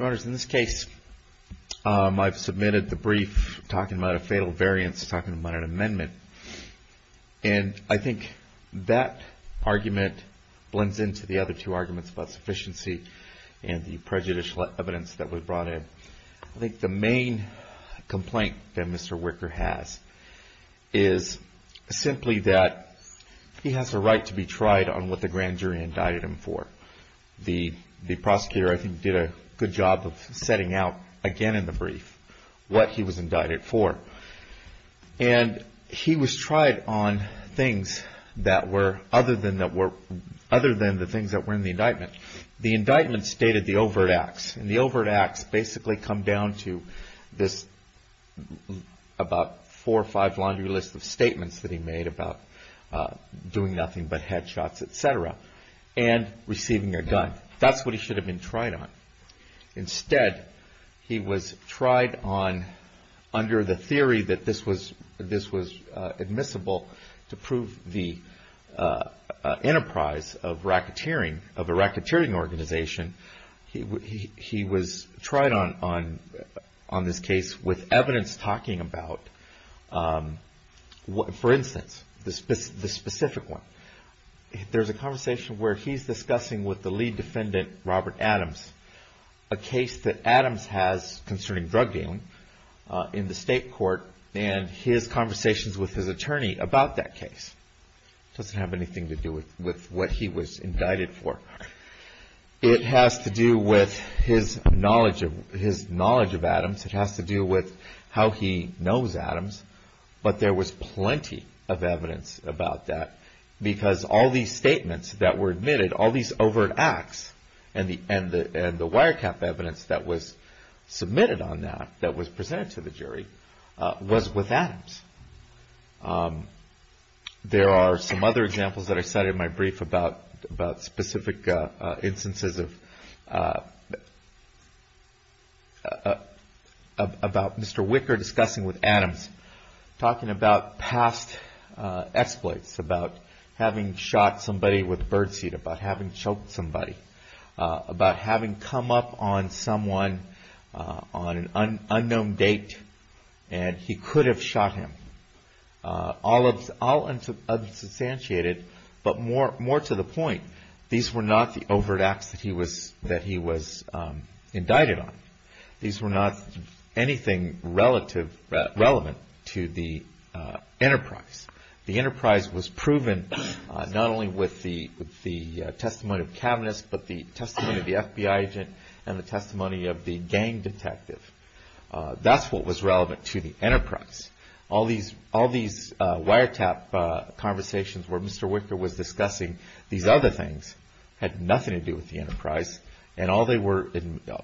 In this case, I've submitted the brief talking about a fatal variance, talking about an amendment. And I think that argument blends into the other two arguments about sufficiency and the prejudicial evidence that was brought in. I think the main complaint that Mr. Wicker has is simply that he has a right to be tried on what the grand jury indicted him for. The prosecutor, I think, did a good job of setting out again in the brief what he was indicted for. And he was tried on things that were other than the things that were in the indictment. The indictment stated the overt acts. And the overt acts basically come down to this about four or five laundry lists of statements that he made about doing nothing but head shots, etc. And receiving a gun. That's what he should have been tried on. He was tried on this case with evidence talking about, for instance, the specific one. There's a conversation where he's discussing with the lead defendant, Robert Adams, a case that Adams has concerning drug dealing in the state court. And his conversations with his attorney about that case. It doesn't have anything to do with what he was indicted for. It has to do with his knowledge of Adams. It has to do with how he knows Adams. But there was plenty of evidence about that. Because all these statements that were admitted, all these overt acts, and the wire cap evidence that was submitted on that, that was presented to the jury, was with Adams. There are some other examples that I cited in my brief about specific instances of Mr. Wicker discussing with Adams. Talking about past exploits. About having shot somebody with birdseed. About having choked somebody. About having come up on someone on an unknown date. And he could have shot him. All unsubstantiated, but more to the point, these were not the overt acts that he was indicted on. These were not anything relevant to the enterprise. The enterprise was proven not only with the testimony of Kavanaugh, but the testimony of the FBI agent and the testimony of the gang detective. That's what was relevant to the enterprise. All these wire tap conversations where Mr. Wicker was discussing these other things had nothing to do with the enterprise. And all they were,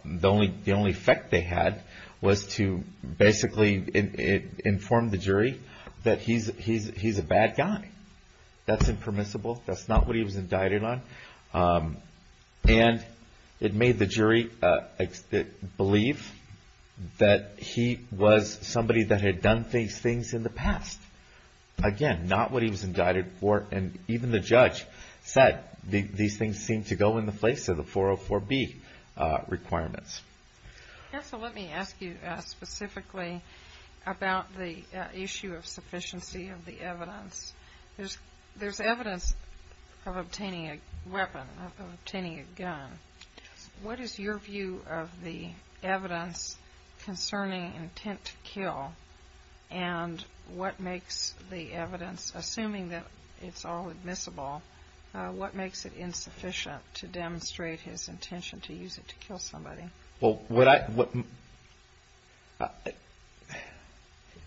the only effect they had was to basically inform the jury that he's a bad guy. That's impermissible. That's not what he was indicted on. And it made the jury believe that he was somebody that had done these things in the past. Again, not what he was indicted for. And even the judge said these things seemed to go in the place of the 404B requirements. Yes, so let me ask you specifically about the issue of sufficiency of the evidence. There's evidence of obtaining a weapon, of obtaining a gun. What is your view of the evidence concerning intent to kill and what makes the evidence, assuming that it's all admissible, what makes it insufficient to demonstrate his intention to use it to kill somebody? Well,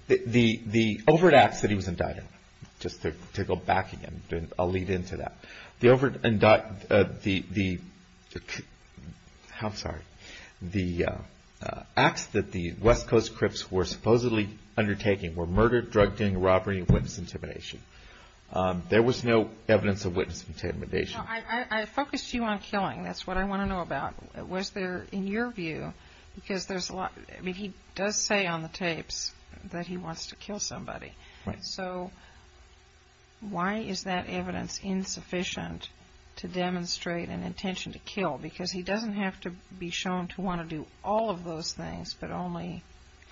the overt acts that he was indicted on, just to go back again, I'll lead into that. The overt, I'm sorry, the acts that the West Coast Crips were supposedly undertaking were murder, drug dealing, robbery, and witness intimidation. There was no evidence of witness intimidation. I focused you on killing. That's what I want to know about. Was there, in your view, because there's a lot, I mean, he does say on the tapes that he wants to kill somebody. Right. So why is that evidence insufficient to demonstrate an intention to kill? Because he doesn't have to be shown to want to do all of those things but only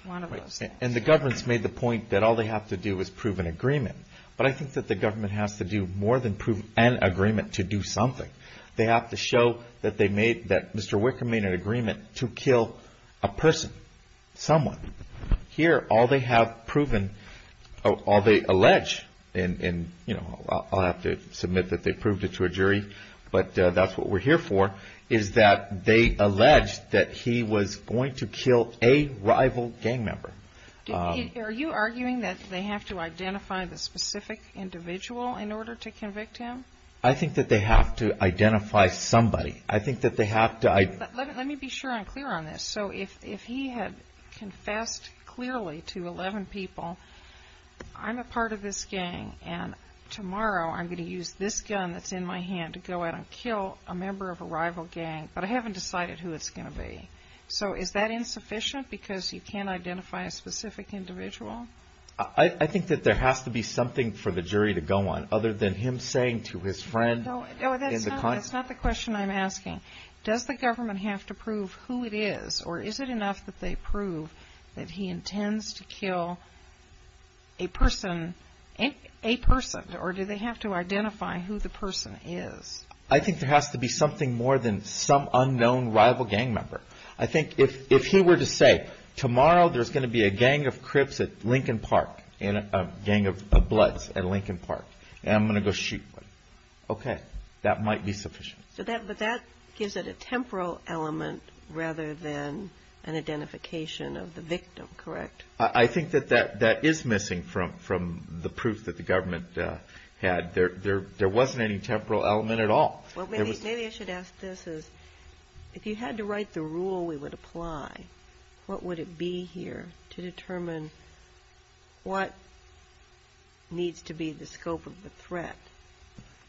one of those things. And the government's made the point that all they have to do is prove an agreement. But I think that the government has to do more than prove an agreement to do something. They have to show that they made, that Mr. Wicker made an agreement to kill a person, someone. Here, all they have proven, all they allege, and, you know, I'll have to submit that they proved it to a jury, but that's what we're here for, is that they alleged that he was going to kill a rival gang member. Are you arguing that they have to identify the specific individual in order to convict him? I think that they have to identify somebody. I think that they have to. Let me be sure I'm clear on this. So if he had confessed clearly to 11 people, I'm a part of this gang, and tomorrow I'm going to use this gun that's in my hand to go out and kill a member of a rival gang, but I haven't decided who it's going to be. So is that insufficient because you can't identify a specific individual? I think that there has to be something for the jury to go on other than him saying to his friend in the context. No, that's not the question I'm asking. Does the government have to prove who it is, or is it enough that they prove that he intends to kill a person, or do they have to identify who the person is? I think there has to be something more than some unknown rival gang member. I think if he were to say, tomorrow there's going to be a gang of Crips at Lincoln Park, a gang of Bloods at Lincoln Park, and I'm going to go shoot one, okay, that might be sufficient. But that gives it a temporal element rather than an identification of the victim, correct? I think that that is missing from the proof that the government had. There wasn't any temporal element at all. Maybe I should ask this. If you had to write the rule we would apply, what would it be here to determine what needs to be the scope of the threat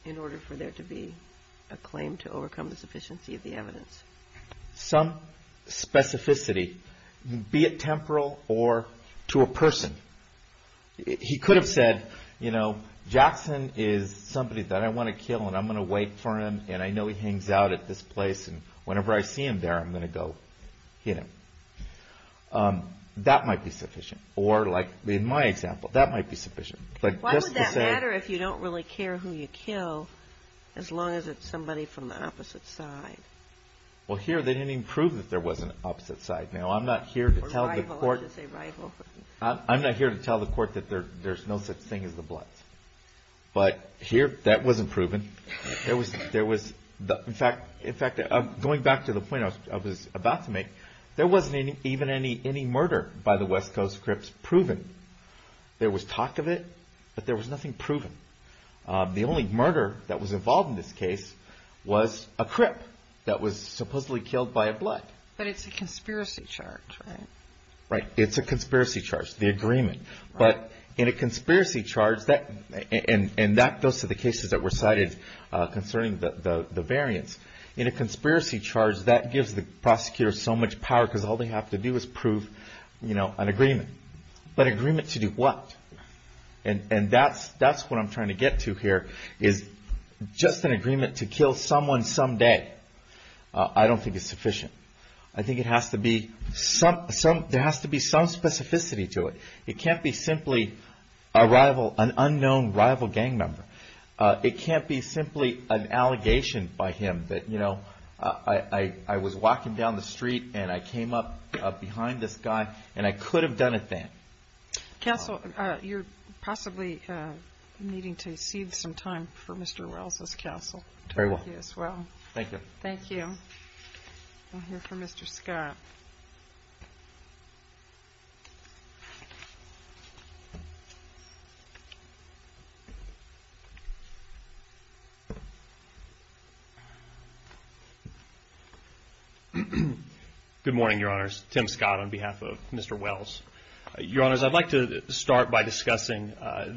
in order for there to be a claim to overcome the sufficiency of the evidence? Some specificity, be it temporal or to a person. He could have said, you know, Jackson is somebody that I want to kill, and I'm going to wait for him, and I know he hangs out at this place, and whenever I see him there I'm going to go hit him. That might be sufficient. Or like in my example, that might be sufficient. Why would that matter if you don't really care who you kill, as long as it's somebody from the opposite side? Well, here they didn't even prove that there was an opposite side. Now, I'm not here to tell the court that there's no such thing as the Bloods. But here that wasn't proven. In fact, going back to the point I was about to make, there wasn't even any murder by the West Coast Crips proven. There was talk of it, but there was nothing proven. The only murder that was involved in this case was a Crip that was supposedly killed by a Blood. But it's a conspiracy charge, right? Right, it's a conspiracy charge, the agreement. But in a conspiracy charge, and that goes to the cases that were cited concerning the variants. In a conspiracy charge, that gives the prosecutor so much power because all they have to do is prove an agreement. But an agreement to do what? And that's what I'm trying to get to here, is just an agreement to kill someone some day. I don't think it's sufficient. I think there has to be some specificity to it. It can't be simply an unknown rival gang member. It can't be simply an allegation by him that I was walking down the street and I came up behind this guy and I could have done it then. Counsel, you're possibly needing to cede some time for Mr. Wells' counsel. Very well. Thank you as well. Thank you. Thank you. We'll hear from Mr. Scott. Good morning, Your Honors. Tim Scott on behalf of Mr. Wells. Your Honors, I'd like to start by discussing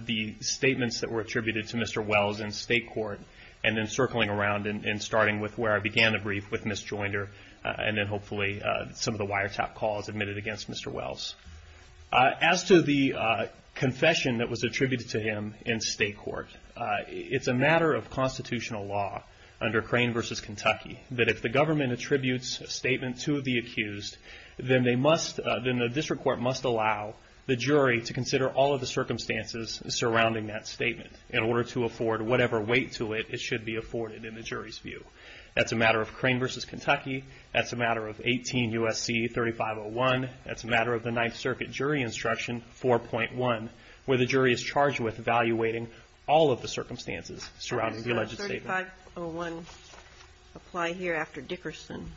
the statements that were attributed to Mr. Wells in state court and then circling around and starting with where I began the brief with Ms. Joinder and then hopefully some of the wiretap calls admitted against Mr. Wells. As to the confession that was attributed to him in state court, it's a matter of constitutional law under Crane v. Kentucky that if the government attributes a statement to the accused, then the district court must allow the jury to consider all of the circumstances surrounding that statement in order to afford whatever weight to it it should be afforded in the jury's view. That's a matter of Crane v. Kentucky. That's a matter of 18 U.S.C. 3501. That's a matter of the Ninth Circuit jury instruction 4.1 where the jury is charged with evaluating all of the circumstances surrounding the alleged statement. Does 3501 apply here after Dickerson?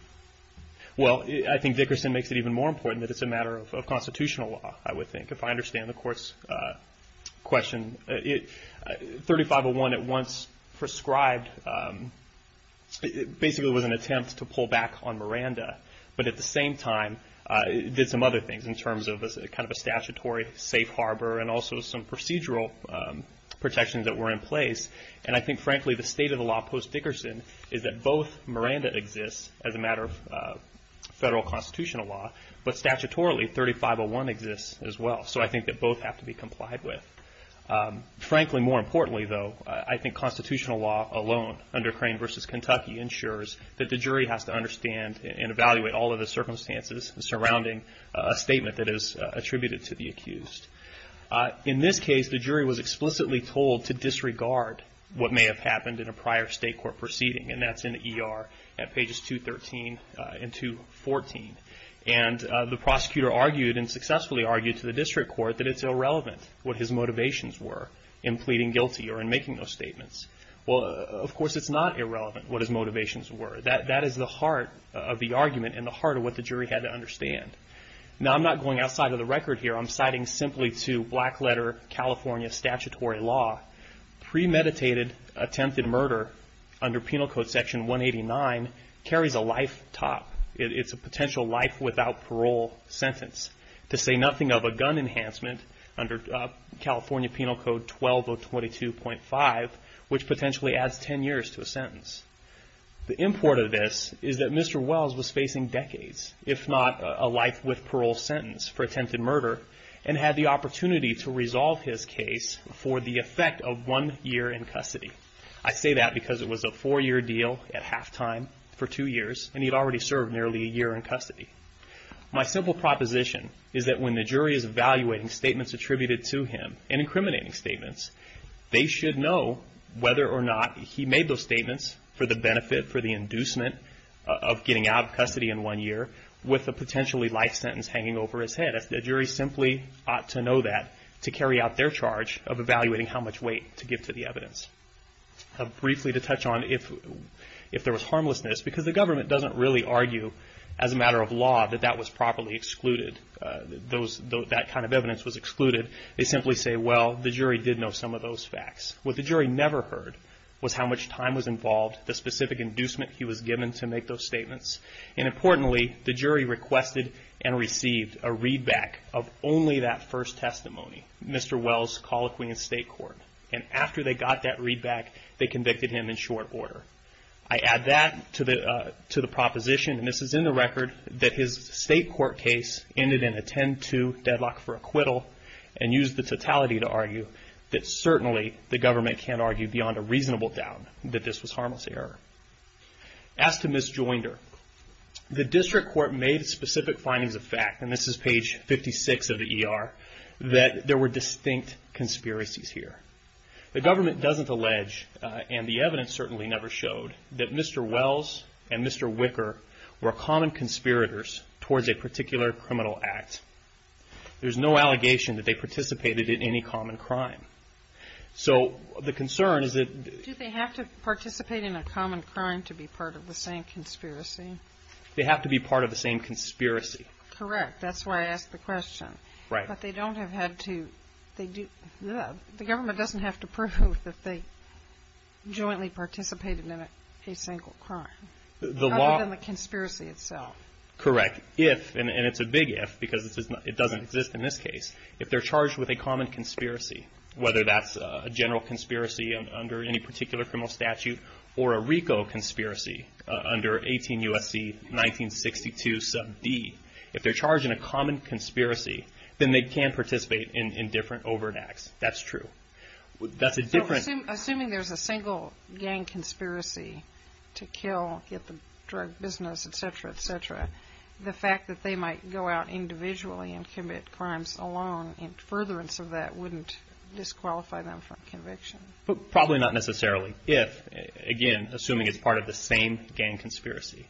Well, I think Dickerson makes it even more important that it's a matter of constitutional law, I would think, if I understand the Court's question. 3501 at once prescribed basically was an attempt to pull back on Miranda, but at the same time did some other things in terms of kind of a statutory safe harbor and also some procedural protections that were in place. And I think, frankly, the state of the law post-Dickerson is that both Miranda exists as a matter of federal constitutional law, but statutorily 3501 exists as well. So I think that both have to be complied with. Frankly, more importantly, though, I think constitutional law alone under Crane v. Kentucky ensures that the jury has to understand and evaluate all of the circumstances surrounding a statement that is attributed to the accused. In this case, the jury was explicitly told to disregard what may have happened in a prior state court proceeding, and that's in the ER at pages 213 and 214. And the prosecutor argued and successfully argued to the district court that it's irrelevant what his motivations were in pleading guilty or in making those statements. Well, of course, it's not irrelevant what his motivations were. That is the heart of the argument and the heart of what the jury had to understand. Now, I'm not going outside of the record here. I'm citing simply to black letter California statutory law. Premeditated attempted murder under Penal Code Section 189 carries a life top. It's a potential life without parole sentence. To say nothing of a gun enhancement under California Penal Code 12022.5, which potentially adds 10 years to a sentence. The import of this is that Mr. Wells was facing decades, if not a life with parole sentence for attempted murder, and had the opportunity to resolve his case for the effect of one year in custody. I say that because it was a four-year deal at halftime for two years, and he'd already served nearly a year in custody. My simple proposition is that when the jury is evaluating statements attributed to him and incriminating statements, they should know whether or not he made those statements for the benefit, for the inducement of getting out of custody in one year with a potentially life sentence hanging over his head. The jury simply ought to know that to carry out their charge of evaluating how much weight to give to the evidence. Briefly to touch on if there was harmlessness, because the government doesn't really argue as a matter of law that that was properly excluded. That kind of evidence was excluded. They simply say, well, the jury did know some of those facts. What the jury never heard was how much time was involved, the specific inducement he was given to make those statements. And importantly, the jury requested and received a readback of only that first testimony, Mr. Wells' colloquy in state court. And after they got that readback, they convicted him in short order. I add that to the proposition, and this is in the record, that his state court case ended in a 10-2 deadlock for acquittal and used the totality to argue that certainly the government can't argue beyond a reasonable doubt that this was harmless error. As to Ms. Joinder, the district court made specific findings of fact, and this is page 56 of the ER, that there were distinct conspiracies here. The government doesn't allege, and the evidence certainly never showed, that Mr. Wells and Mr. Wicker were common conspirators towards a particular criminal act. There's no allegation that they participated in any common crime. So the concern is that they have to participate in a common crime to be part of the same conspiracy. They have to be part of the same conspiracy. Correct. That's why I asked the question. Right. But the government doesn't have to prove that they jointly participated in a single crime, other than the conspiracy itself. Correct. If, and it's a big if because it doesn't exist in this case, if they're charged with a common conspiracy, whether that's a general conspiracy under any particular criminal statute or a RICO conspiracy under 18 U.S.C. 1962, sub D, if they're charged in a common conspiracy, then they can participate in different overt acts. That's true. That's a different Assuming there's a single gang conspiracy to kill, get the drug business, et cetera, et cetera, the fact that they might go out individually and commit crimes alone in furtherance of that wouldn't disqualify them from conviction. Probably not necessarily if, again, assuming it's part of the same gang conspiracy.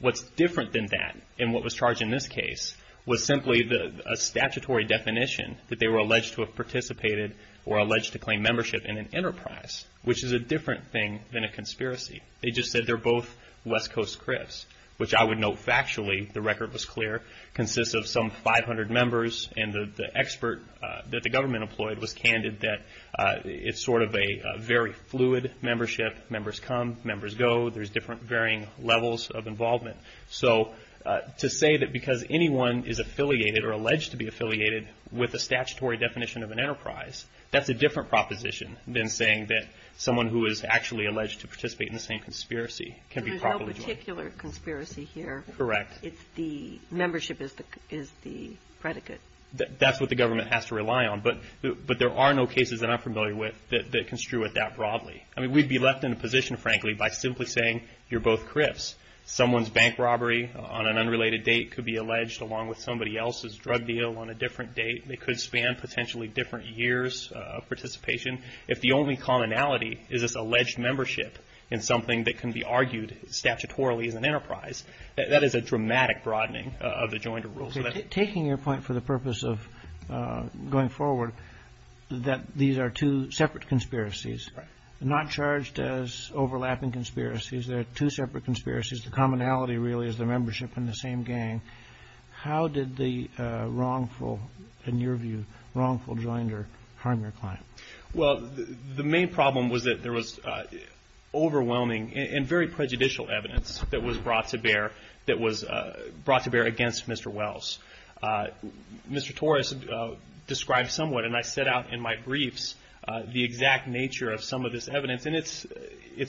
What's different than that, and what was charged in this case, was simply a statutory definition that they were alleged to have participated or alleged to claim membership in an enterprise, which is a different thing than a conspiracy. They just said they're both West Coast Crips, which I would note factually, the record was clear, consists of some 500 members, and the expert that the government employed was candid that it's sort of a very fluid membership. Members come, members go. There's different varying levels of involvement. So to say that because anyone is affiliated or alleged to be affiliated with a statutory definition of an enterprise, that's a different proposition than saying that someone who is actually alleged to participate in the same conspiracy can be properly joined. There's no particular conspiracy here. Correct. It's the membership is the predicate. That's what the government has to rely on, but there are no cases that I'm familiar with that construe it that broadly. I mean, we'd be left in a position, frankly, by simply saying you're both Crips. Someone's bank robbery on an unrelated date could be alleged, along with somebody else's drug deal on a different date. They could span potentially different years of participation. If the only commonality is this alleged membership in something that can be argued statutorily as an enterprise, that is a dramatic broadening of the joined rules. Taking your point for the purpose of going forward, that these are two separate conspiracies. Correct. They're not charged as overlapping conspiracies. They're two separate conspiracies. The commonality really is the membership in the same gang. How did the wrongful, in your view, wrongful joinder harm your client? Well, the main problem was that there was overwhelming and very prejudicial evidence that was brought to bear against Mr. Wells. Mr. Torres described somewhat, and I set out in my briefs, the exact nature of some of this evidence, and it's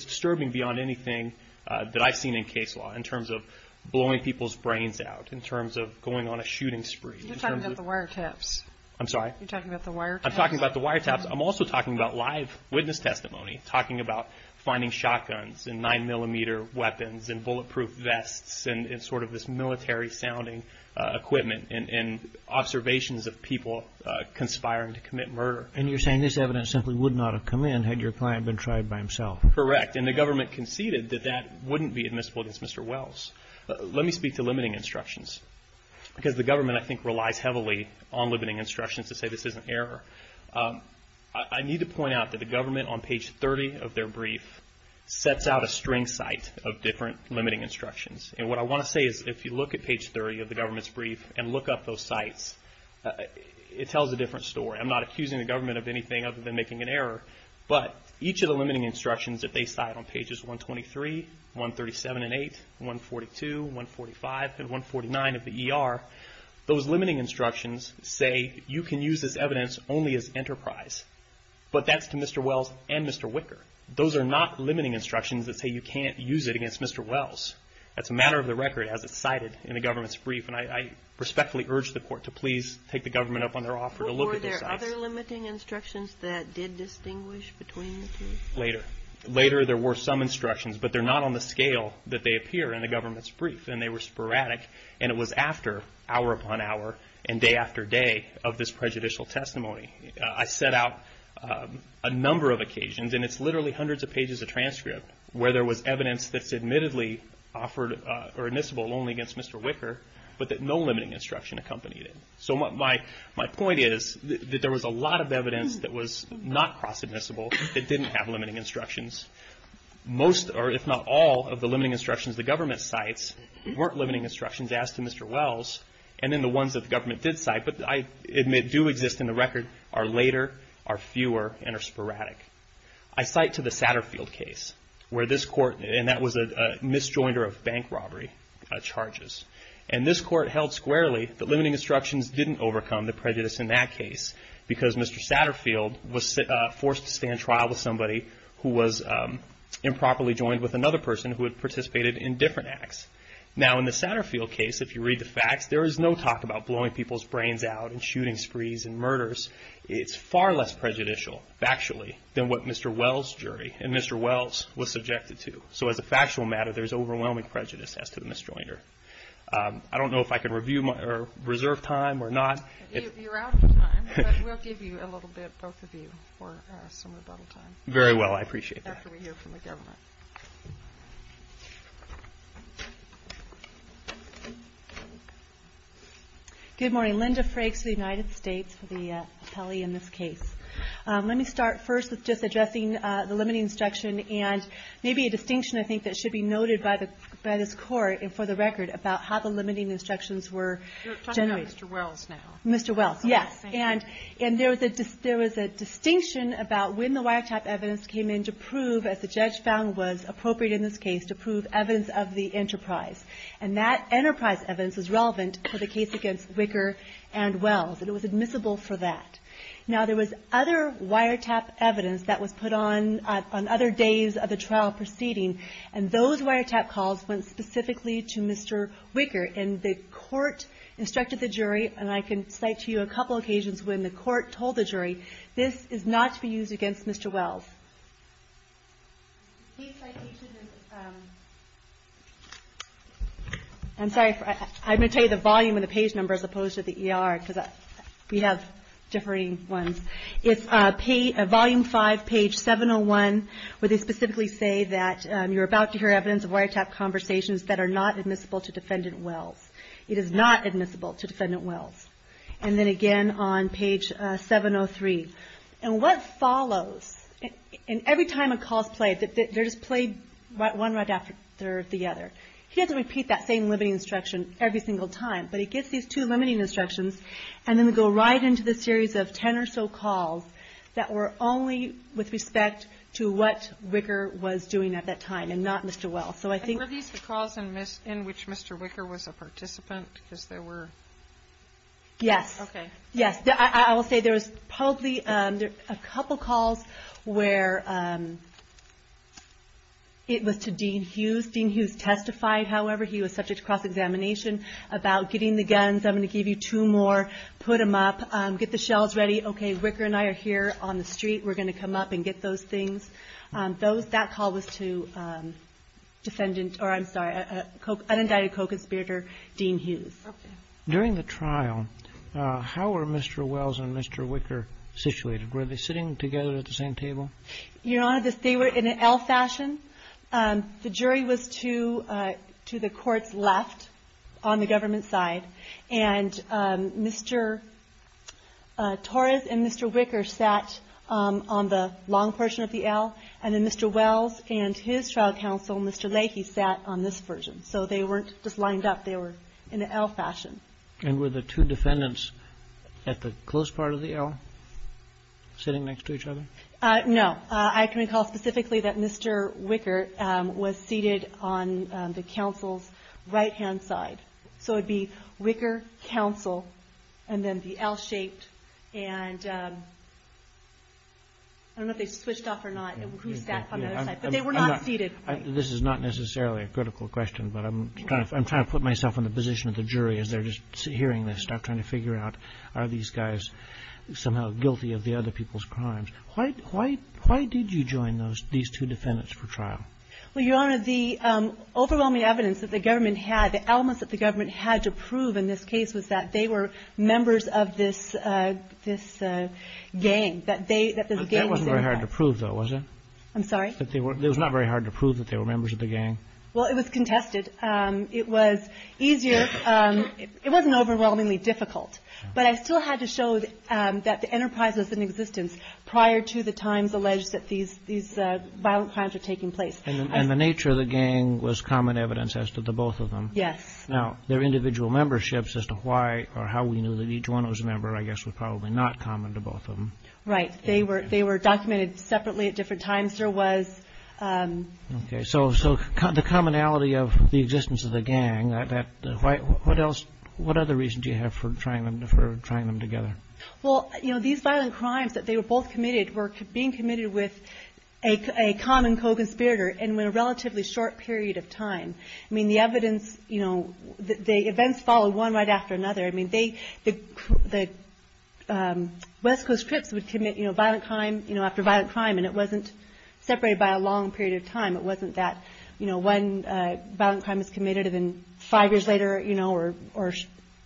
disturbing beyond anything that I've seen in case law in terms of blowing people's brains out, in terms of going on a shooting spree. You're talking about the wiretaps. I'm sorry? You're talking about the wiretaps. I'm talking about the wiretaps. I'm also talking about live witness testimony, talking about finding shotguns and 9mm weapons and bulletproof vests and sort of this military-sounding equipment and observations of people conspiring to commit murder. And you're saying this evidence simply would not have come in had your client been tried by himself. Correct. And the government conceded that that wouldn't be admissible against Mr. Wells. Let me speak to limiting instructions, because the government, I think, relies heavily on limiting instructions to say this is an error. I need to point out that the government, on page 30 of their brief, sets out a string cite of different limiting instructions. And what I want to say is if you look at page 30 of the government's brief and look up those cites, it tells a different story. I'm not accusing the government of anything other than making an error. But each of the limiting instructions that they cite on pages 123, 137 and 8, 142, 145, and 149 of the ER, those limiting instructions say you can use this evidence only as enterprise. But that's to Mr. Wells and Mr. Wicker. Those are not limiting instructions that say you can't use it against Mr. Wells. That's a matter of the record as it's cited in the government's brief. And I respectfully urge the Court to please take the government up on their offer to look at the cites. Were there other limiting instructions that did distinguish between the two? Later. Later there were some instructions, but they're not on the scale that they appear in the government's brief, and they were sporadic. And it was after hour upon hour and day after day of this prejudicial testimony. I set out a number of occasions, and it's literally hundreds of pages of transcript, where there was evidence that's admittedly offered or admissible only against Mr. Wicker, but that no limiting instruction accompanied it. So my point is that there was a lot of evidence that was not cross-admissible that didn't have limiting instructions. Most, or if not all, of the limiting instructions the government cites weren't limiting instructions as to Mr. Wells, and then the ones that the government did cite, but I admit do exist in the record, are later, are fewer, and are sporadic. I cite to the Satterfield case where this Court, and that was a misjoinder of bank robbery charges, and this Court held squarely that limiting instructions didn't overcome the prejudice in that case because Mr. Satterfield was forced to stand trial with somebody who was improperly joined with another person who had participated in different acts. Now in the Satterfield case, if you read the facts, there is no talk about blowing people's brains out and shooting sprees and murders. It's far less prejudicial factually than what Mr. Wells' jury and Mr. Wells was subjected to. So as a factual matter, there's overwhelming prejudice as to the misjoinder. I don't know if I can reserve time or not. You're out of time, but we'll give you a little bit, both of you, for some rebuttal time. Very well. I appreciate that. After we hear from the government. Good morning. Linda Frakes of the United States for the appellee in this case. Let me start first with just addressing the limiting instruction and maybe a distinction I think that should be noted by this Court and for the record about how the limiting instructions were generated. You're talking about Mr. Wells now. Mr. Wells, yes. And there was a distinction about when the wiretap evidence came in to prove, as the judge found was appropriate in this case, to prove evidence of the enterprise. And that enterprise evidence was relevant for the case against Wicker and Wells, and it was admissible for that. Now, there was other wiretap evidence that was put on on other days of the trial proceeding, and those wiretap calls went specifically to Mr. Wicker. And the Court instructed the jury, and I can cite to you a couple of occasions when the Court told the jury, this is not to be used against Mr. Wells. I'm sorry. I'm going to tell you the volume and the page number as opposed to the ER because we have differing ones. It's volume 5, page 701, where they specifically say that you're about to hear evidence of wiretap conversations that are not admissible to Defendant Wells. It is not admissible to Defendant Wells. And then again on page 703. And what follows, and every time a call is played, they're just played one right after the other. He doesn't repeat that same limiting instruction every single time, but he gets these two limiting instructions and then they go right into the series of ten or so calls that were only with respect to what Wicker was doing at that time and not Mr. Wells. So I think... And were these the calls in which Mr. Wicker was a participant because there were... Yes. Okay. Yes. I will say there was probably a couple calls where it was to Dean Hughes. Dean Hughes testified, however, he was subject to cross-examination about getting the guns. I'm going to give you two more. Put them up. Get the shells ready. Okay. Wicker and I are here on the street. We're going to come up and get those things. Those, that call was to Defendant, or I'm sorry, unindicted co-conspirator Dean Hughes. Okay. During the trial, how were Mr. Wells and Mr. Wicker situated? Were they sitting together at the same table? Your Honor, they were in an L fashion. The jury was to the court's left on the government side. And Mr. Torres and Mr. Wicker sat on the long portion of the L, and then Mr. Wells and his trial counsel, Mr. Leahy, sat on this version. So they weren't just lined up. They were in an L fashion. And were the two defendants at the close part of the L sitting next to each other? No. I can recall specifically that Mr. Wicker was seated on the counsel's right-hand side. So it would be Wicker, counsel, and then the L shaped. And I don't know if they switched off or not, who sat on the other side. But they were not seated. This is not necessarily a critical question, but I'm trying to put myself in the position of the jury as they're just hearing this, trying to figure out are these guys somehow guilty of the other people's crimes. Why did you join these two defendants for trial? Well, Your Honor, the overwhelming evidence that the government had, the elements that the government had to prove in this case was that they were members of this gang, that this gang was involved. That wasn't very hard to prove, though, was it? I'm sorry? It was not very hard to prove that they were members of the gang. Well, it was contested. It was easier. It wasn't overwhelmingly difficult. But I still had to show that the enterprise was in existence prior to the times alleged that these violent crimes were taking place. And the nature of the gang was common evidence as to the both of them. Yes. Now, their individual memberships as to why or how we knew that each one was a member, I guess, was probably not common to both of them. Right. They were documented separately at different times. There was – Okay. So the commonality of the existence of the gang, what other reason do you have for trying them together? Well, you know, these violent crimes that they were both committed were being committed with a common co-conspirator in a relatively short period of time. I mean, the evidence, you know, the events followed one right after another. I mean, the West Coast Crips would commit, you know, violent crime after violent crime, it wasn't that, you know, one violent crime was committed, and then five years later, you know, or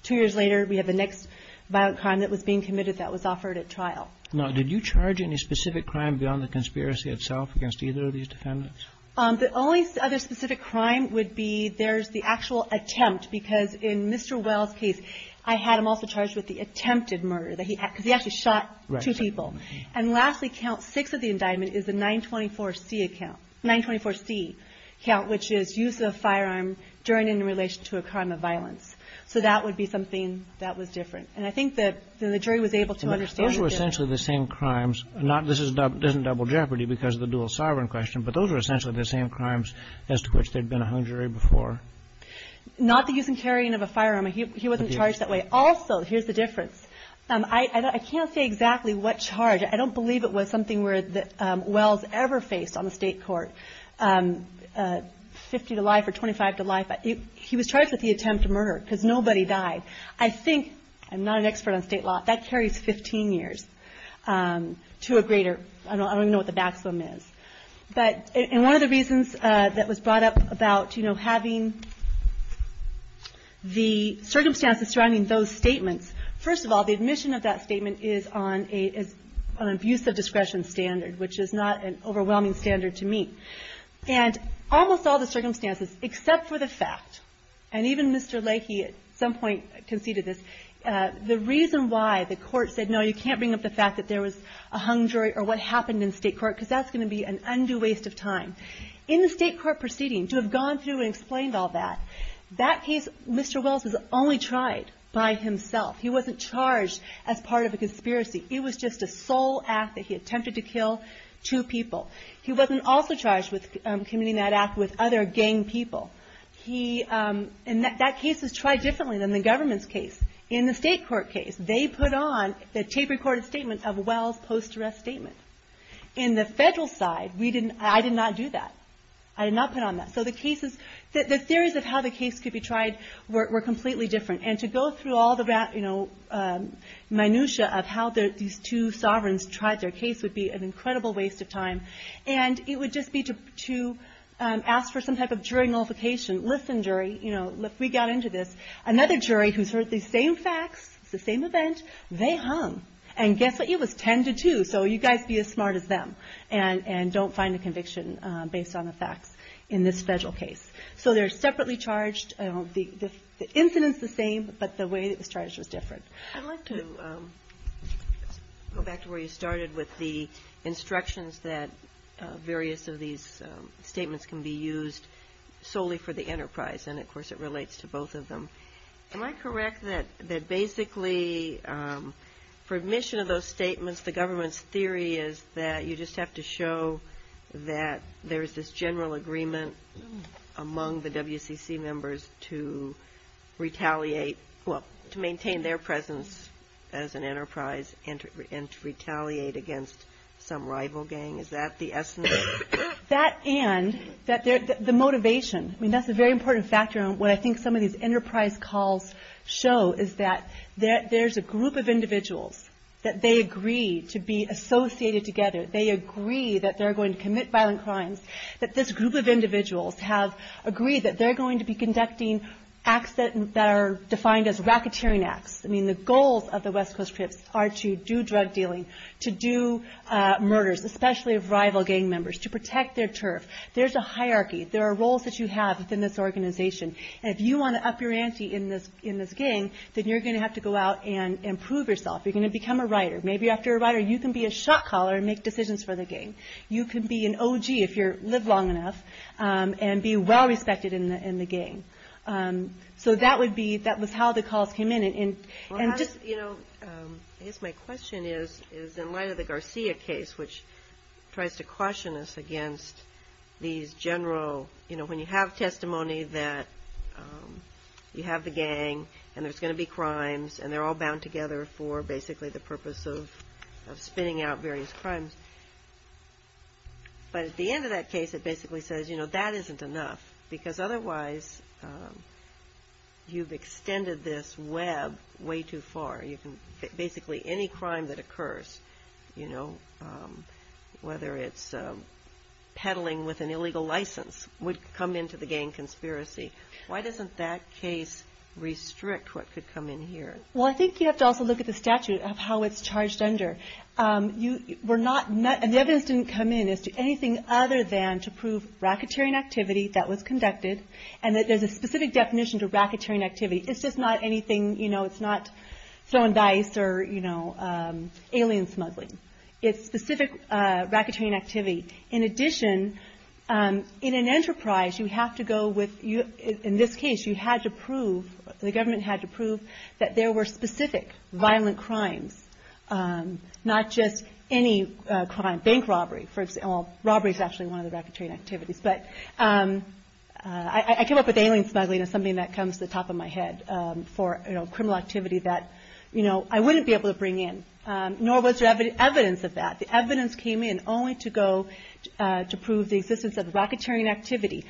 two years later, we have the next violent crime that was being committed that was offered at trial. Now, did you charge any specific crime beyond the conspiracy itself against either of these defendants? The only other specific crime would be there's the actual attempt, because in Mr. Wells' case, I had him also charged with the attempted murder, because he actually shot two people. Right. And lastly, count six of the indictment is the 924C account, 924C account, which is use of a firearm during and in relation to a crime of violence. So that would be something that was different. And I think that the jury was able to understand the difference. Those were essentially the same crimes. This isn't double jeopardy because of the dual sovereign question, but those were essentially the same crimes as to which there had been a hung jury before. Not the use and carrying of a firearm. He wasn't charged that way. Also, here's the difference. I can't say exactly what charge. I don't believe it was something that Wells ever faced on the state court, 50 to life or 25 to life. He was charged with the attempt to murder because nobody died. I think, I'm not an expert on state law, that carries 15 years to a greater, I don't even know what the maximum is. And one of the reasons that was brought up about having the circumstances surrounding those statements, first of all, the admission of that statement is on an abuse of discretion standard, which is not an overwhelming standard to me. And almost all the circumstances, except for the fact, and even Mr. Leahy at some point conceded this, the reason why the court said, no, you can't bring up the fact that there was a hung jury or what happened in state court because that's going to be an undue waste of time. In the state court proceeding, to have gone through and explained all that, that case, Mr. Wells was only tried by himself. He wasn't charged as part of a conspiracy. It was just a sole act that he attempted to kill two people. He wasn't also charged with committing that act with other gang people. And that case was tried differently than the government's case. In the state court case, they put on the tape-recorded statement of Wells' post-arrest statement. In the federal side, I did not do that. I did not put on that. So the theories of how the case could be tried were completely different. And to go through all the minutia of how these two sovereigns tried their case would be an incredible waste of time. And it would just be to ask for some type of jury nullification. Listen, jury, we got into this. Another jury who's heard these same facts, the same event, they hung. And guess what? It was 10 to 2. So you guys be as smart as them. And don't find a conviction based on the facts in this federal case. So they're separately charged. The incident's the same, but the way that it was charged was different. I'd like to go back to where you started with the instructions that various of these statements can be used solely for the enterprise. And, of course, it relates to both of them. Am I correct that basically for admission of those statements, the government's theory is that you just have to show that there's this general agreement among the WCC members to retaliate, well, to maintain their presence as an enterprise and to retaliate against some rival gang? Is that the essence? That and the motivation. I mean, that's a very important factor. And what I think some of these enterprise calls show is that there's a group of individuals that they agree to be associated together. They agree that they're going to commit violent crimes, that this group of individuals have agreed that they're going to be conducting acts that are defined as racketeering acts. I mean, the goals of the West Coast Crips are to do drug dealing, to do murders, especially of rival gang members, to protect their turf. There's a hierarchy. There are roles that you have within this organization. And if you want to up your ante in this gang, then you're going to have to go out and prove yourself. You're going to become a writer. Maybe after a writer, you can be a shot caller and make decisions for the gang. You can be an OG if you live long enough and be well respected in the gang. So that would be – that was how the calls came in. You know, I guess my question is in light of the Garcia case, which tries to caution us against these general – you know, when you have testimony that you have the gang and there's going to be crimes and they're all bound together for basically the purpose of spitting out various crimes. But at the end of that case, it basically says, you know, that isn't enough, because otherwise you've extended this web way too far. Basically any crime that occurs, you know, whether it's peddling with an illegal license, would come into the gang conspiracy. Why doesn't that case restrict what could come in here? Well, I think you have to also look at the statute of how it's charged under. The evidence didn't come in as to anything other than to prove racketeering activity that was conducted and that there's a specific definition to racketeering activity. It's just not anything – you know, it's not throwing dice or, you know, alien smuggling. It's specific racketeering activity. In addition, in an enterprise, you have to go with – in this case, you had to prove – the government had to prove that there were specific violent crimes, not just any crime. Bank robbery, for example. Robbery is actually one of the racketeering activities. But I came up with alien smuggling as something that comes to the top of my head for, you know, criminal activity that, you know, I wouldn't be able to bring in. Nor was there evidence of that. The evidence came in only to go – to prove the existence of racketeering activity.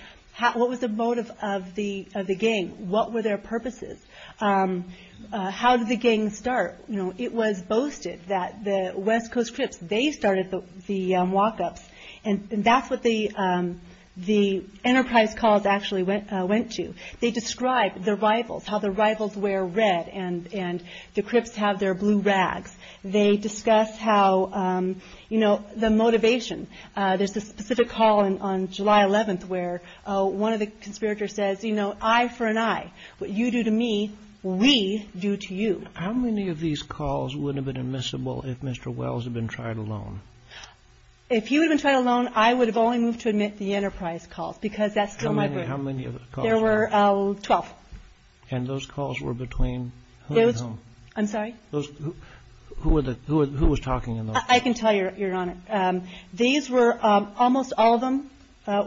What was the motive of the gang? What were their purposes? How did the gang start? You know, it was boasted that the West Coast Crips, they started the walk-ups. And that's what the enterprise calls actually went to. They described the rivals, how the rivals wear red and the Crips have their blue rags. They discuss how, you know, the motivation. There's a specific call on July 11th where one of the conspirators says, you know, eye for an eye, what you do to me, we do to you. How many of these calls would have been admissible if Mr. Wells had been tried alone? If he would have been tried alone, I would have only moved to admit the enterprise calls, because that's still my group. How many of the calls? There were 12. And those calls were between who and whom? Those – I'm sorry? Those – who were the – who was talking in those? I can tell you're on it. These were almost all of them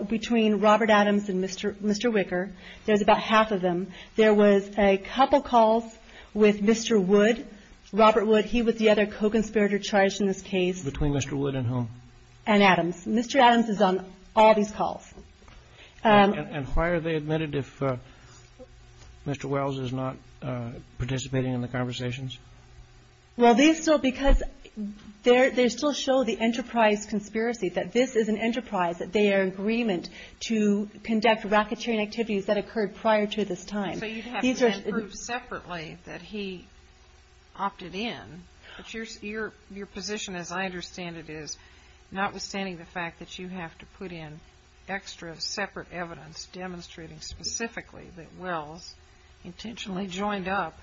between Robert Adams and Mr. Wicker. There's about half of them. There was a couple calls with Mr. Wood, Robert Wood. He was the other co-conspirator charged in this case. Between Mr. Wood and whom? And Adams. Mr. Adams is on all these calls. And why are they admitted if Mr. Wells is not participating in the conversations? Well, these still – because they still show the enterprise conspiracy, that this is an enterprise, that they are in agreement to conduct racketeering activities that occurred prior to this time. So you'd have to then prove separately that he opted in. But your position, as I understand it, is notwithstanding the fact that you have to put in extra, separate evidence demonstrating specifically that Wells intentionally joined up,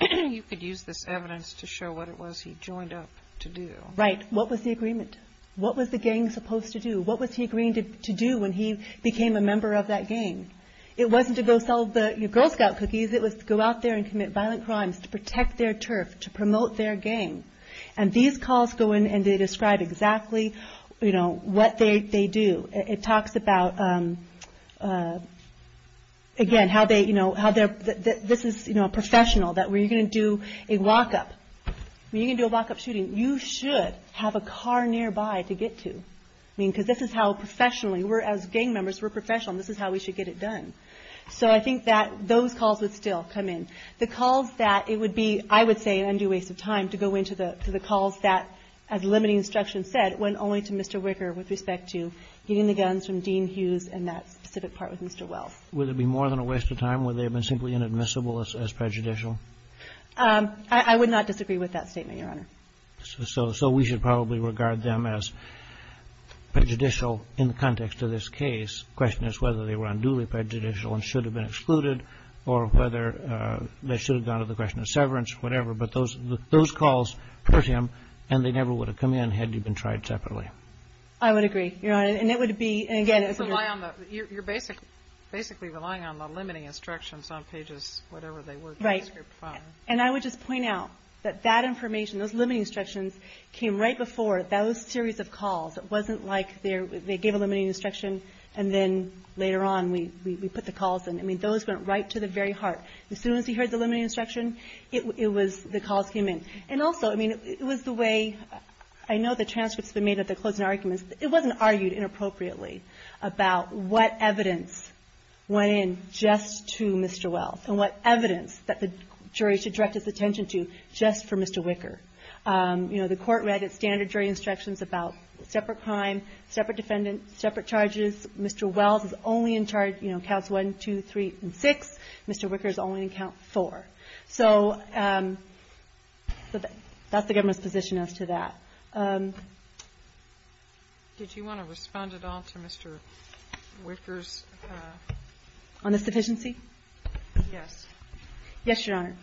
you could use this evidence to show what it was he joined up to do. Right. What was the agreement? What was the gang supposed to do? What was he agreeing to do when he became a member of that gang? It wasn't to go sell the Girl Scout cookies. It was to go out there and commit violent crimes to protect their turf, to promote their gang. And these calls go in and they describe exactly, you know, what they do. It talks about, again, how they, you know, how they're – this is, you know, professional, that when you're going to do a walk-up, when you're going to do a walk-up shooting, you should have a car nearby to get to. I mean, because this is how professionally we're – as gang members, we're professional, and this is how we should get it done. So I think that those calls would still come in. The calls that it would be, I would say, an undue waste of time to go into the calls that, as limiting instruction said, went only to Mr. Wicker with respect to getting the guns from Dean Hughes and that specific part with Mr. Wells. Would it be more than a waste of time? Would they have been simply inadmissible as prejudicial? I would not disagree with that statement, Your Honor. So we should probably regard them as prejudicial in the context of this case. The question is whether they were unduly prejudicial and should have been excluded or whether they should have gone to the question of severance, whatever. But those calls hurt him, and they never would have come in had they been tried separately. I would agree, Your Honor. And it would be – and, again, it's – You're basically relying on the limiting instructions on pages whatever they were. Right. And I would just point out that that information, those limiting instructions, came right before those series of calls. It wasn't like they gave a limiting instruction, and then later on we put the calls in. I mean, those went right to the very heart. As soon as he heard the limiting instruction, it was – the calls came in. And also, I mean, it was the way – I know the transcripts have been made of the closing arguments. It wasn't argued inappropriately about what evidence went in just to Mr. Wells and what evidence that the jury should direct its attention to just for Mr. Wicker. You know, the Court read its standard jury instructions about separate crime, separate defendant, separate charges. Mr. Wells is only in charge, you know, counts one, two, three, and six. Mr. Wicker is only in count four. So that's the government's position as to that. Did you want to respond at all to Mr. Wicker's? On the sufficiency? Yes. Yes, Your Honor.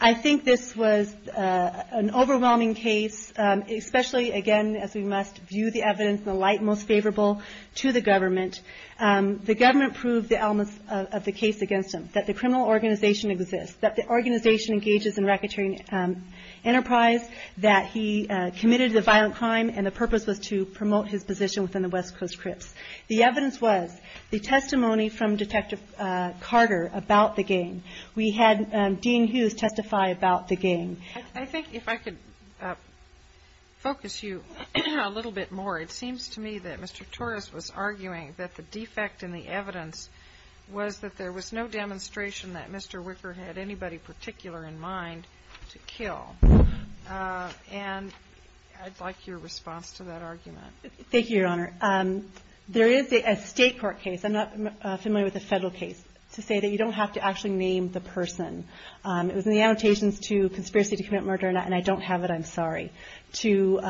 I think this was an overwhelming case, especially, again, as we must view the evidence in the light most favorable to the government. The government proved the elements of the case against him, that the criminal organization exists, that the organization engages in racketeering enterprise, that he committed a violent crime, and the purpose was to promote his position within the West Coast Crips. The evidence was the testimony from Detective Carter about the gang. We had Dean Hughes testify about the gang. I think if I could focus you a little bit more, it seems to me that Mr. Torres was arguing that the defect in the evidence was that there was no demonstration that Mr. Wicker had anybody particular in mind to kill. And I'd like your response to that argument. Thank you, Your Honor. There is a State court case, I'm not familiar with the Federal case, to say that you don't have to actually name the person. It was in the annotations to conspiracy to commit murder, and I don't have it, I'm sorry, for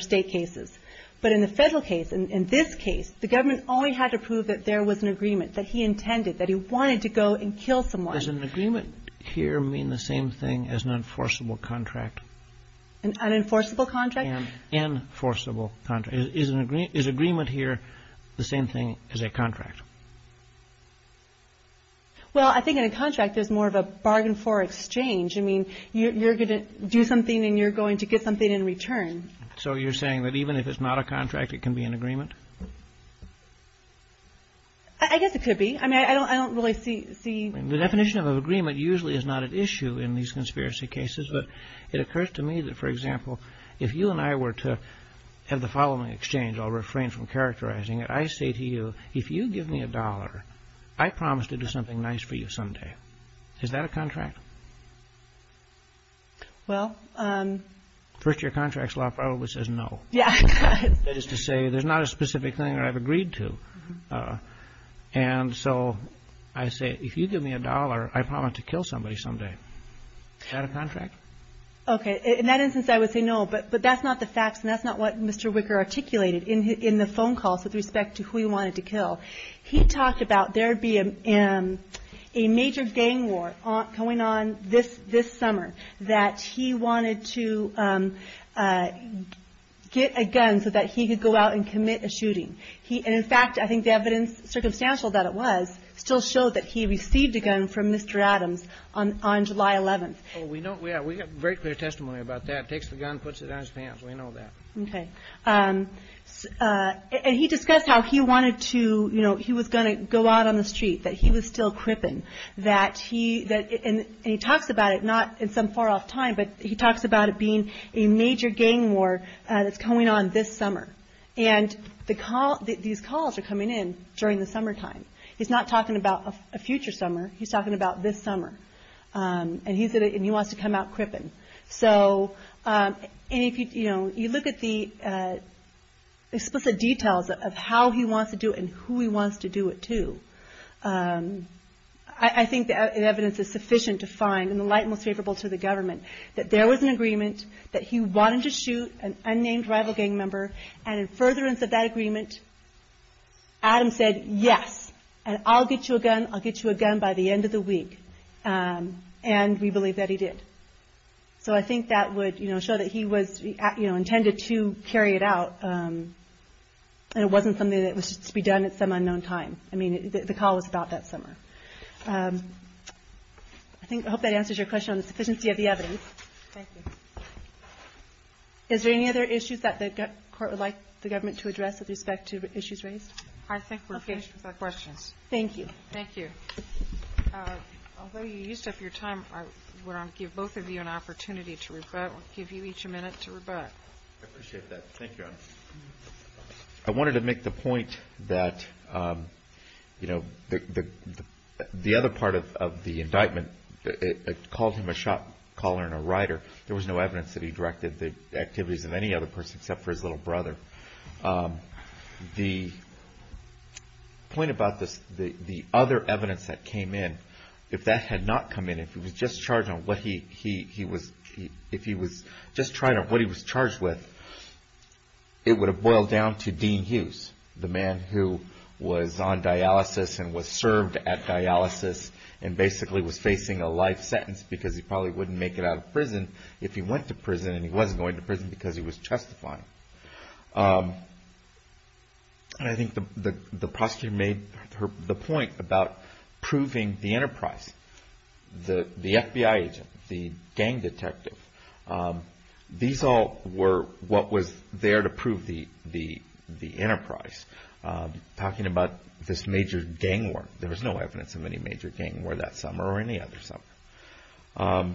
State cases. But in the Federal case, in this case, the government only had to prove that there was an agreement, that he intended, that he wanted to go and kill someone. Does an agreement here mean the same thing as an enforceable contract? An unenforceable contract? An enforceable contract. Is agreement here the same thing as a contract? Well, I think in a contract there's more of a bargain for exchange. I mean, you're going to do something and you're going to get something in return. So you're saying that even if it's not a contract, it can be an agreement? I guess it could be. I mean, I don't really see. The definition of agreement usually is not at issue in these conspiracy cases, but it occurs to me that, for example, if you and I were to have the following exchange, I'll refrain from characterizing it. I say to you, if you give me a dollar, I promise to do something nice for you someday. Is that a contract? Well. First your contract's law probably says no. Yeah. That is to say there's not a specific thing that I've agreed to. And so I say, if you give me a dollar, I promise to kill somebody someday. Is that a contract? Okay. In that instance I would say no, but that's not the facts and that's not what Mr. Wicker articulated in the phone calls with respect to who he wanted to kill. He talked about there being a major gang war going on this summer, that he wanted to get a gun so that he could go out and commit a shooting. And, in fact, I think the evidence, circumstantial that it was, still showed that he received a gun from Mr. Adams on July 11th. We have very clear testimony about that. Takes the gun, puts it on his pants. We know that. Okay. And he discussed how he wanted to, you know, he was going to go out on the street, that he was still cripping, and he talks about it, not in some far-off time, but he talks about it being a major gang war that's going on this summer. And these calls are coming in during the summertime. He's not talking about a future summer. He's talking about this summer. And he wants to come out cripping. So, you know, you look at the explicit details of how he wants to do it and who he wants to do it to, I think the evidence is sufficient to find, in the light most favorable to the government, that there was an agreement that he wanted to shoot an unnamed rival gang member, and in furtherance of that agreement, Adams said, Yes, and I'll get you a gun, I'll get you a gun by the end of the week. And we believe that he did. So I think that would show that he intended to carry it out, and it wasn't something that was to be done at some unknown time. I mean, the call was about that summer. I hope that answers your question on the sufficiency of the evidence. Thank you. Is there any other issues that the court would like the government to address with respect to issues raised? I think we're finished with our questions. Thank you. Thank you. Although you used up your time, I want to give both of you an opportunity to rebut. I'll give you each a minute to rebut. I appreciate that. Thank you, Your Honor. I wanted to make the point that, you know, the other part of the indictment, it called him a shot caller and a writer. There was no evidence that he directed the activities of any other person except for his little brother. The point about this, the other evidence that came in, if that had not come in, if he was just charged on what he was charged with, it would have boiled down to Dean Hughes, the man who was on dialysis and was served at dialysis and basically was facing a life sentence because he probably wouldn't make it out of prison if he went to prison and he wasn't going to prison because he was testifying. And I think the prosecutor made the point about proving the enterprise, the FBI agent, the gang detective, these all were what was there to prove the enterprise. Talking about this major gang war, there was no evidence of any major gang war that summer or any other summer.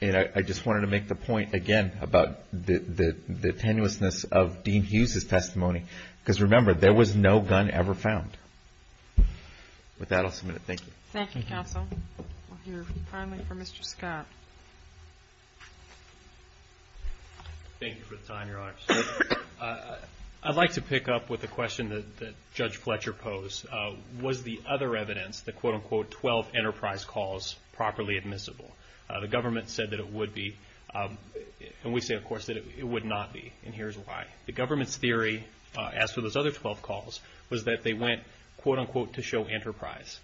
And I just wanted to make the point, again, about the tenuousness of Dean Hughes' testimony because, remember, there was no gun ever found. With that, I'll submit it. Thank you. Thank you, Counsel. We'll hear finally from Mr. Scott. Thank you for the time, Your Honor. I'd like to pick up with the question that Judge Fletcher posed. Was the other evidence, the quote-unquote 12 enterprise calls, properly admissible? The government said that it would be. And we say, of course, that it would not be. And here's why. The government's theory, as for those other 12 calls, was that they went, quote-unquote, to show enterprise.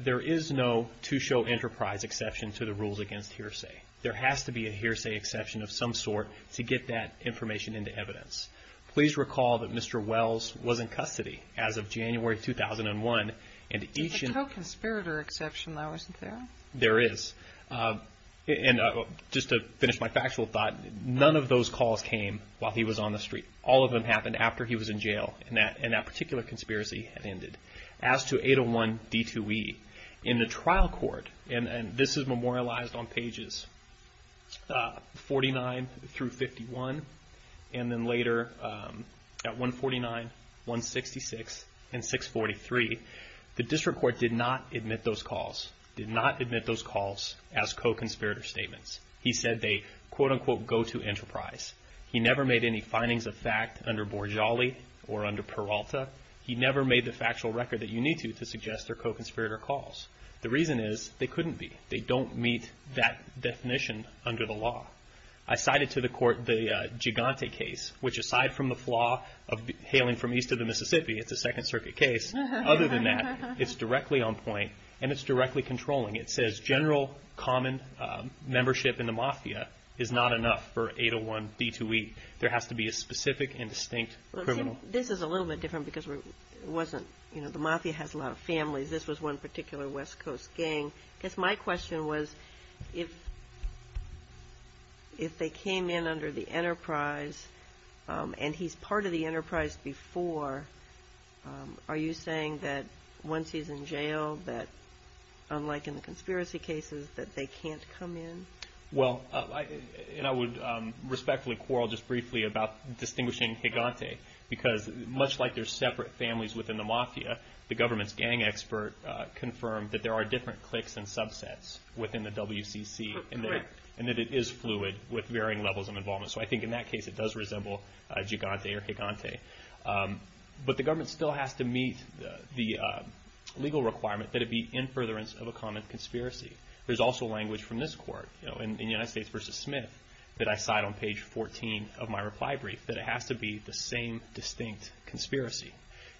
There is no to show enterprise exception to the rules against hearsay. There has to be a hearsay exception of some sort to get that information into evidence. Please recall that Mr. Wells was in custody as of January 2001. There's a co-conspirator exception, though, isn't there? There is. And just to finish my factual thought, none of those calls came while he was on the street. All of them happened after he was in jail, and that particular conspiracy had ended. As to 801 D2E, in the trial court, and this is memorialized on pages 49 through 51, and then later at 149, 166, and 643, the district court did not admit those calls. Did not admit those calls as co-conspirator statements. He said they, quote-unquote, go to enterprise. He never made any findings of fact under Borjali or under Peralta. He never made the factual record that you need to to suggest they're co-conspirator calls. The reason is they couldn't be. They don't meet that definition under the law. I cited to the court the Gigante case, which aside from the flaw of hailing from east of the Mississippi, it's a Second Circuit case, other than that, it's directly on point and it's directly controlling. It says general common membership in the Mafia is not enough for 801 D2E. There has to be a specific and distinct criminal. This is a little bit different because it wasn't, you know, the Mafia has a lot of families. This was one particular West Coast gang. I guess my question was if they came in under the enterprise and he's part of the enterprise before, are you saying that once he's in jail, that unlike in the conspiracy cases, that they can't come in? Well, and I would respectfully quarrel just briefly about distinguishing Gigante because much like they're separate families within the Mafia, the government's gang expert confirmed that there are different cliques and subsets within the WCC and that it is fluid with varying levels of involvement. So I think in that case it does resemble Gigante or Gigante. But the government still has to meet the legal requirement that it be in furtherance of a common conspiracy. There's also language from this court, you know, in United States v. Smith, that I cite on page 14 of my reply brief, that it has to be the same distinct conspiracy.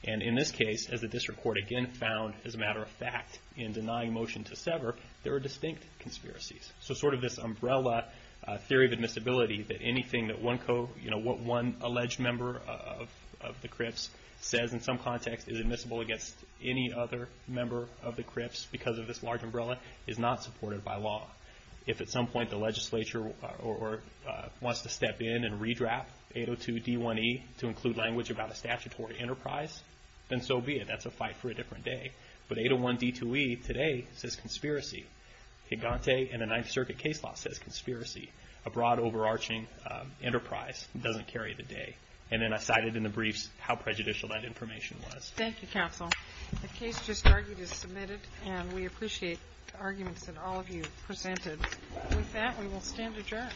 And in this case, as the district court again found, as a matter of fact, in denying motion to sever, there are distinct conspiracies. So sort of this umbrella theory of admissibility that anything that one alleged member of the Crips says in some context is admissible against any other member of the Crips because of this large umbrella is not supported by law. If at some point the legislature wants to step in and redraft 802.D.1.E. to include language about a statutory enterprise, then so be it. That's a fight for a different day. But 801.D.2.E. today says conspiracy. Gigante in the Ninth Circuit case law says conspiracy. A broad, overarching enterprise doesn't carry the day. And then I cited in the briefs how prejudicial that information was. Thank you, Counsel. The case just argued is submitted, and we appreciate the arguments that all of you presented. With that, we will stand adjourned.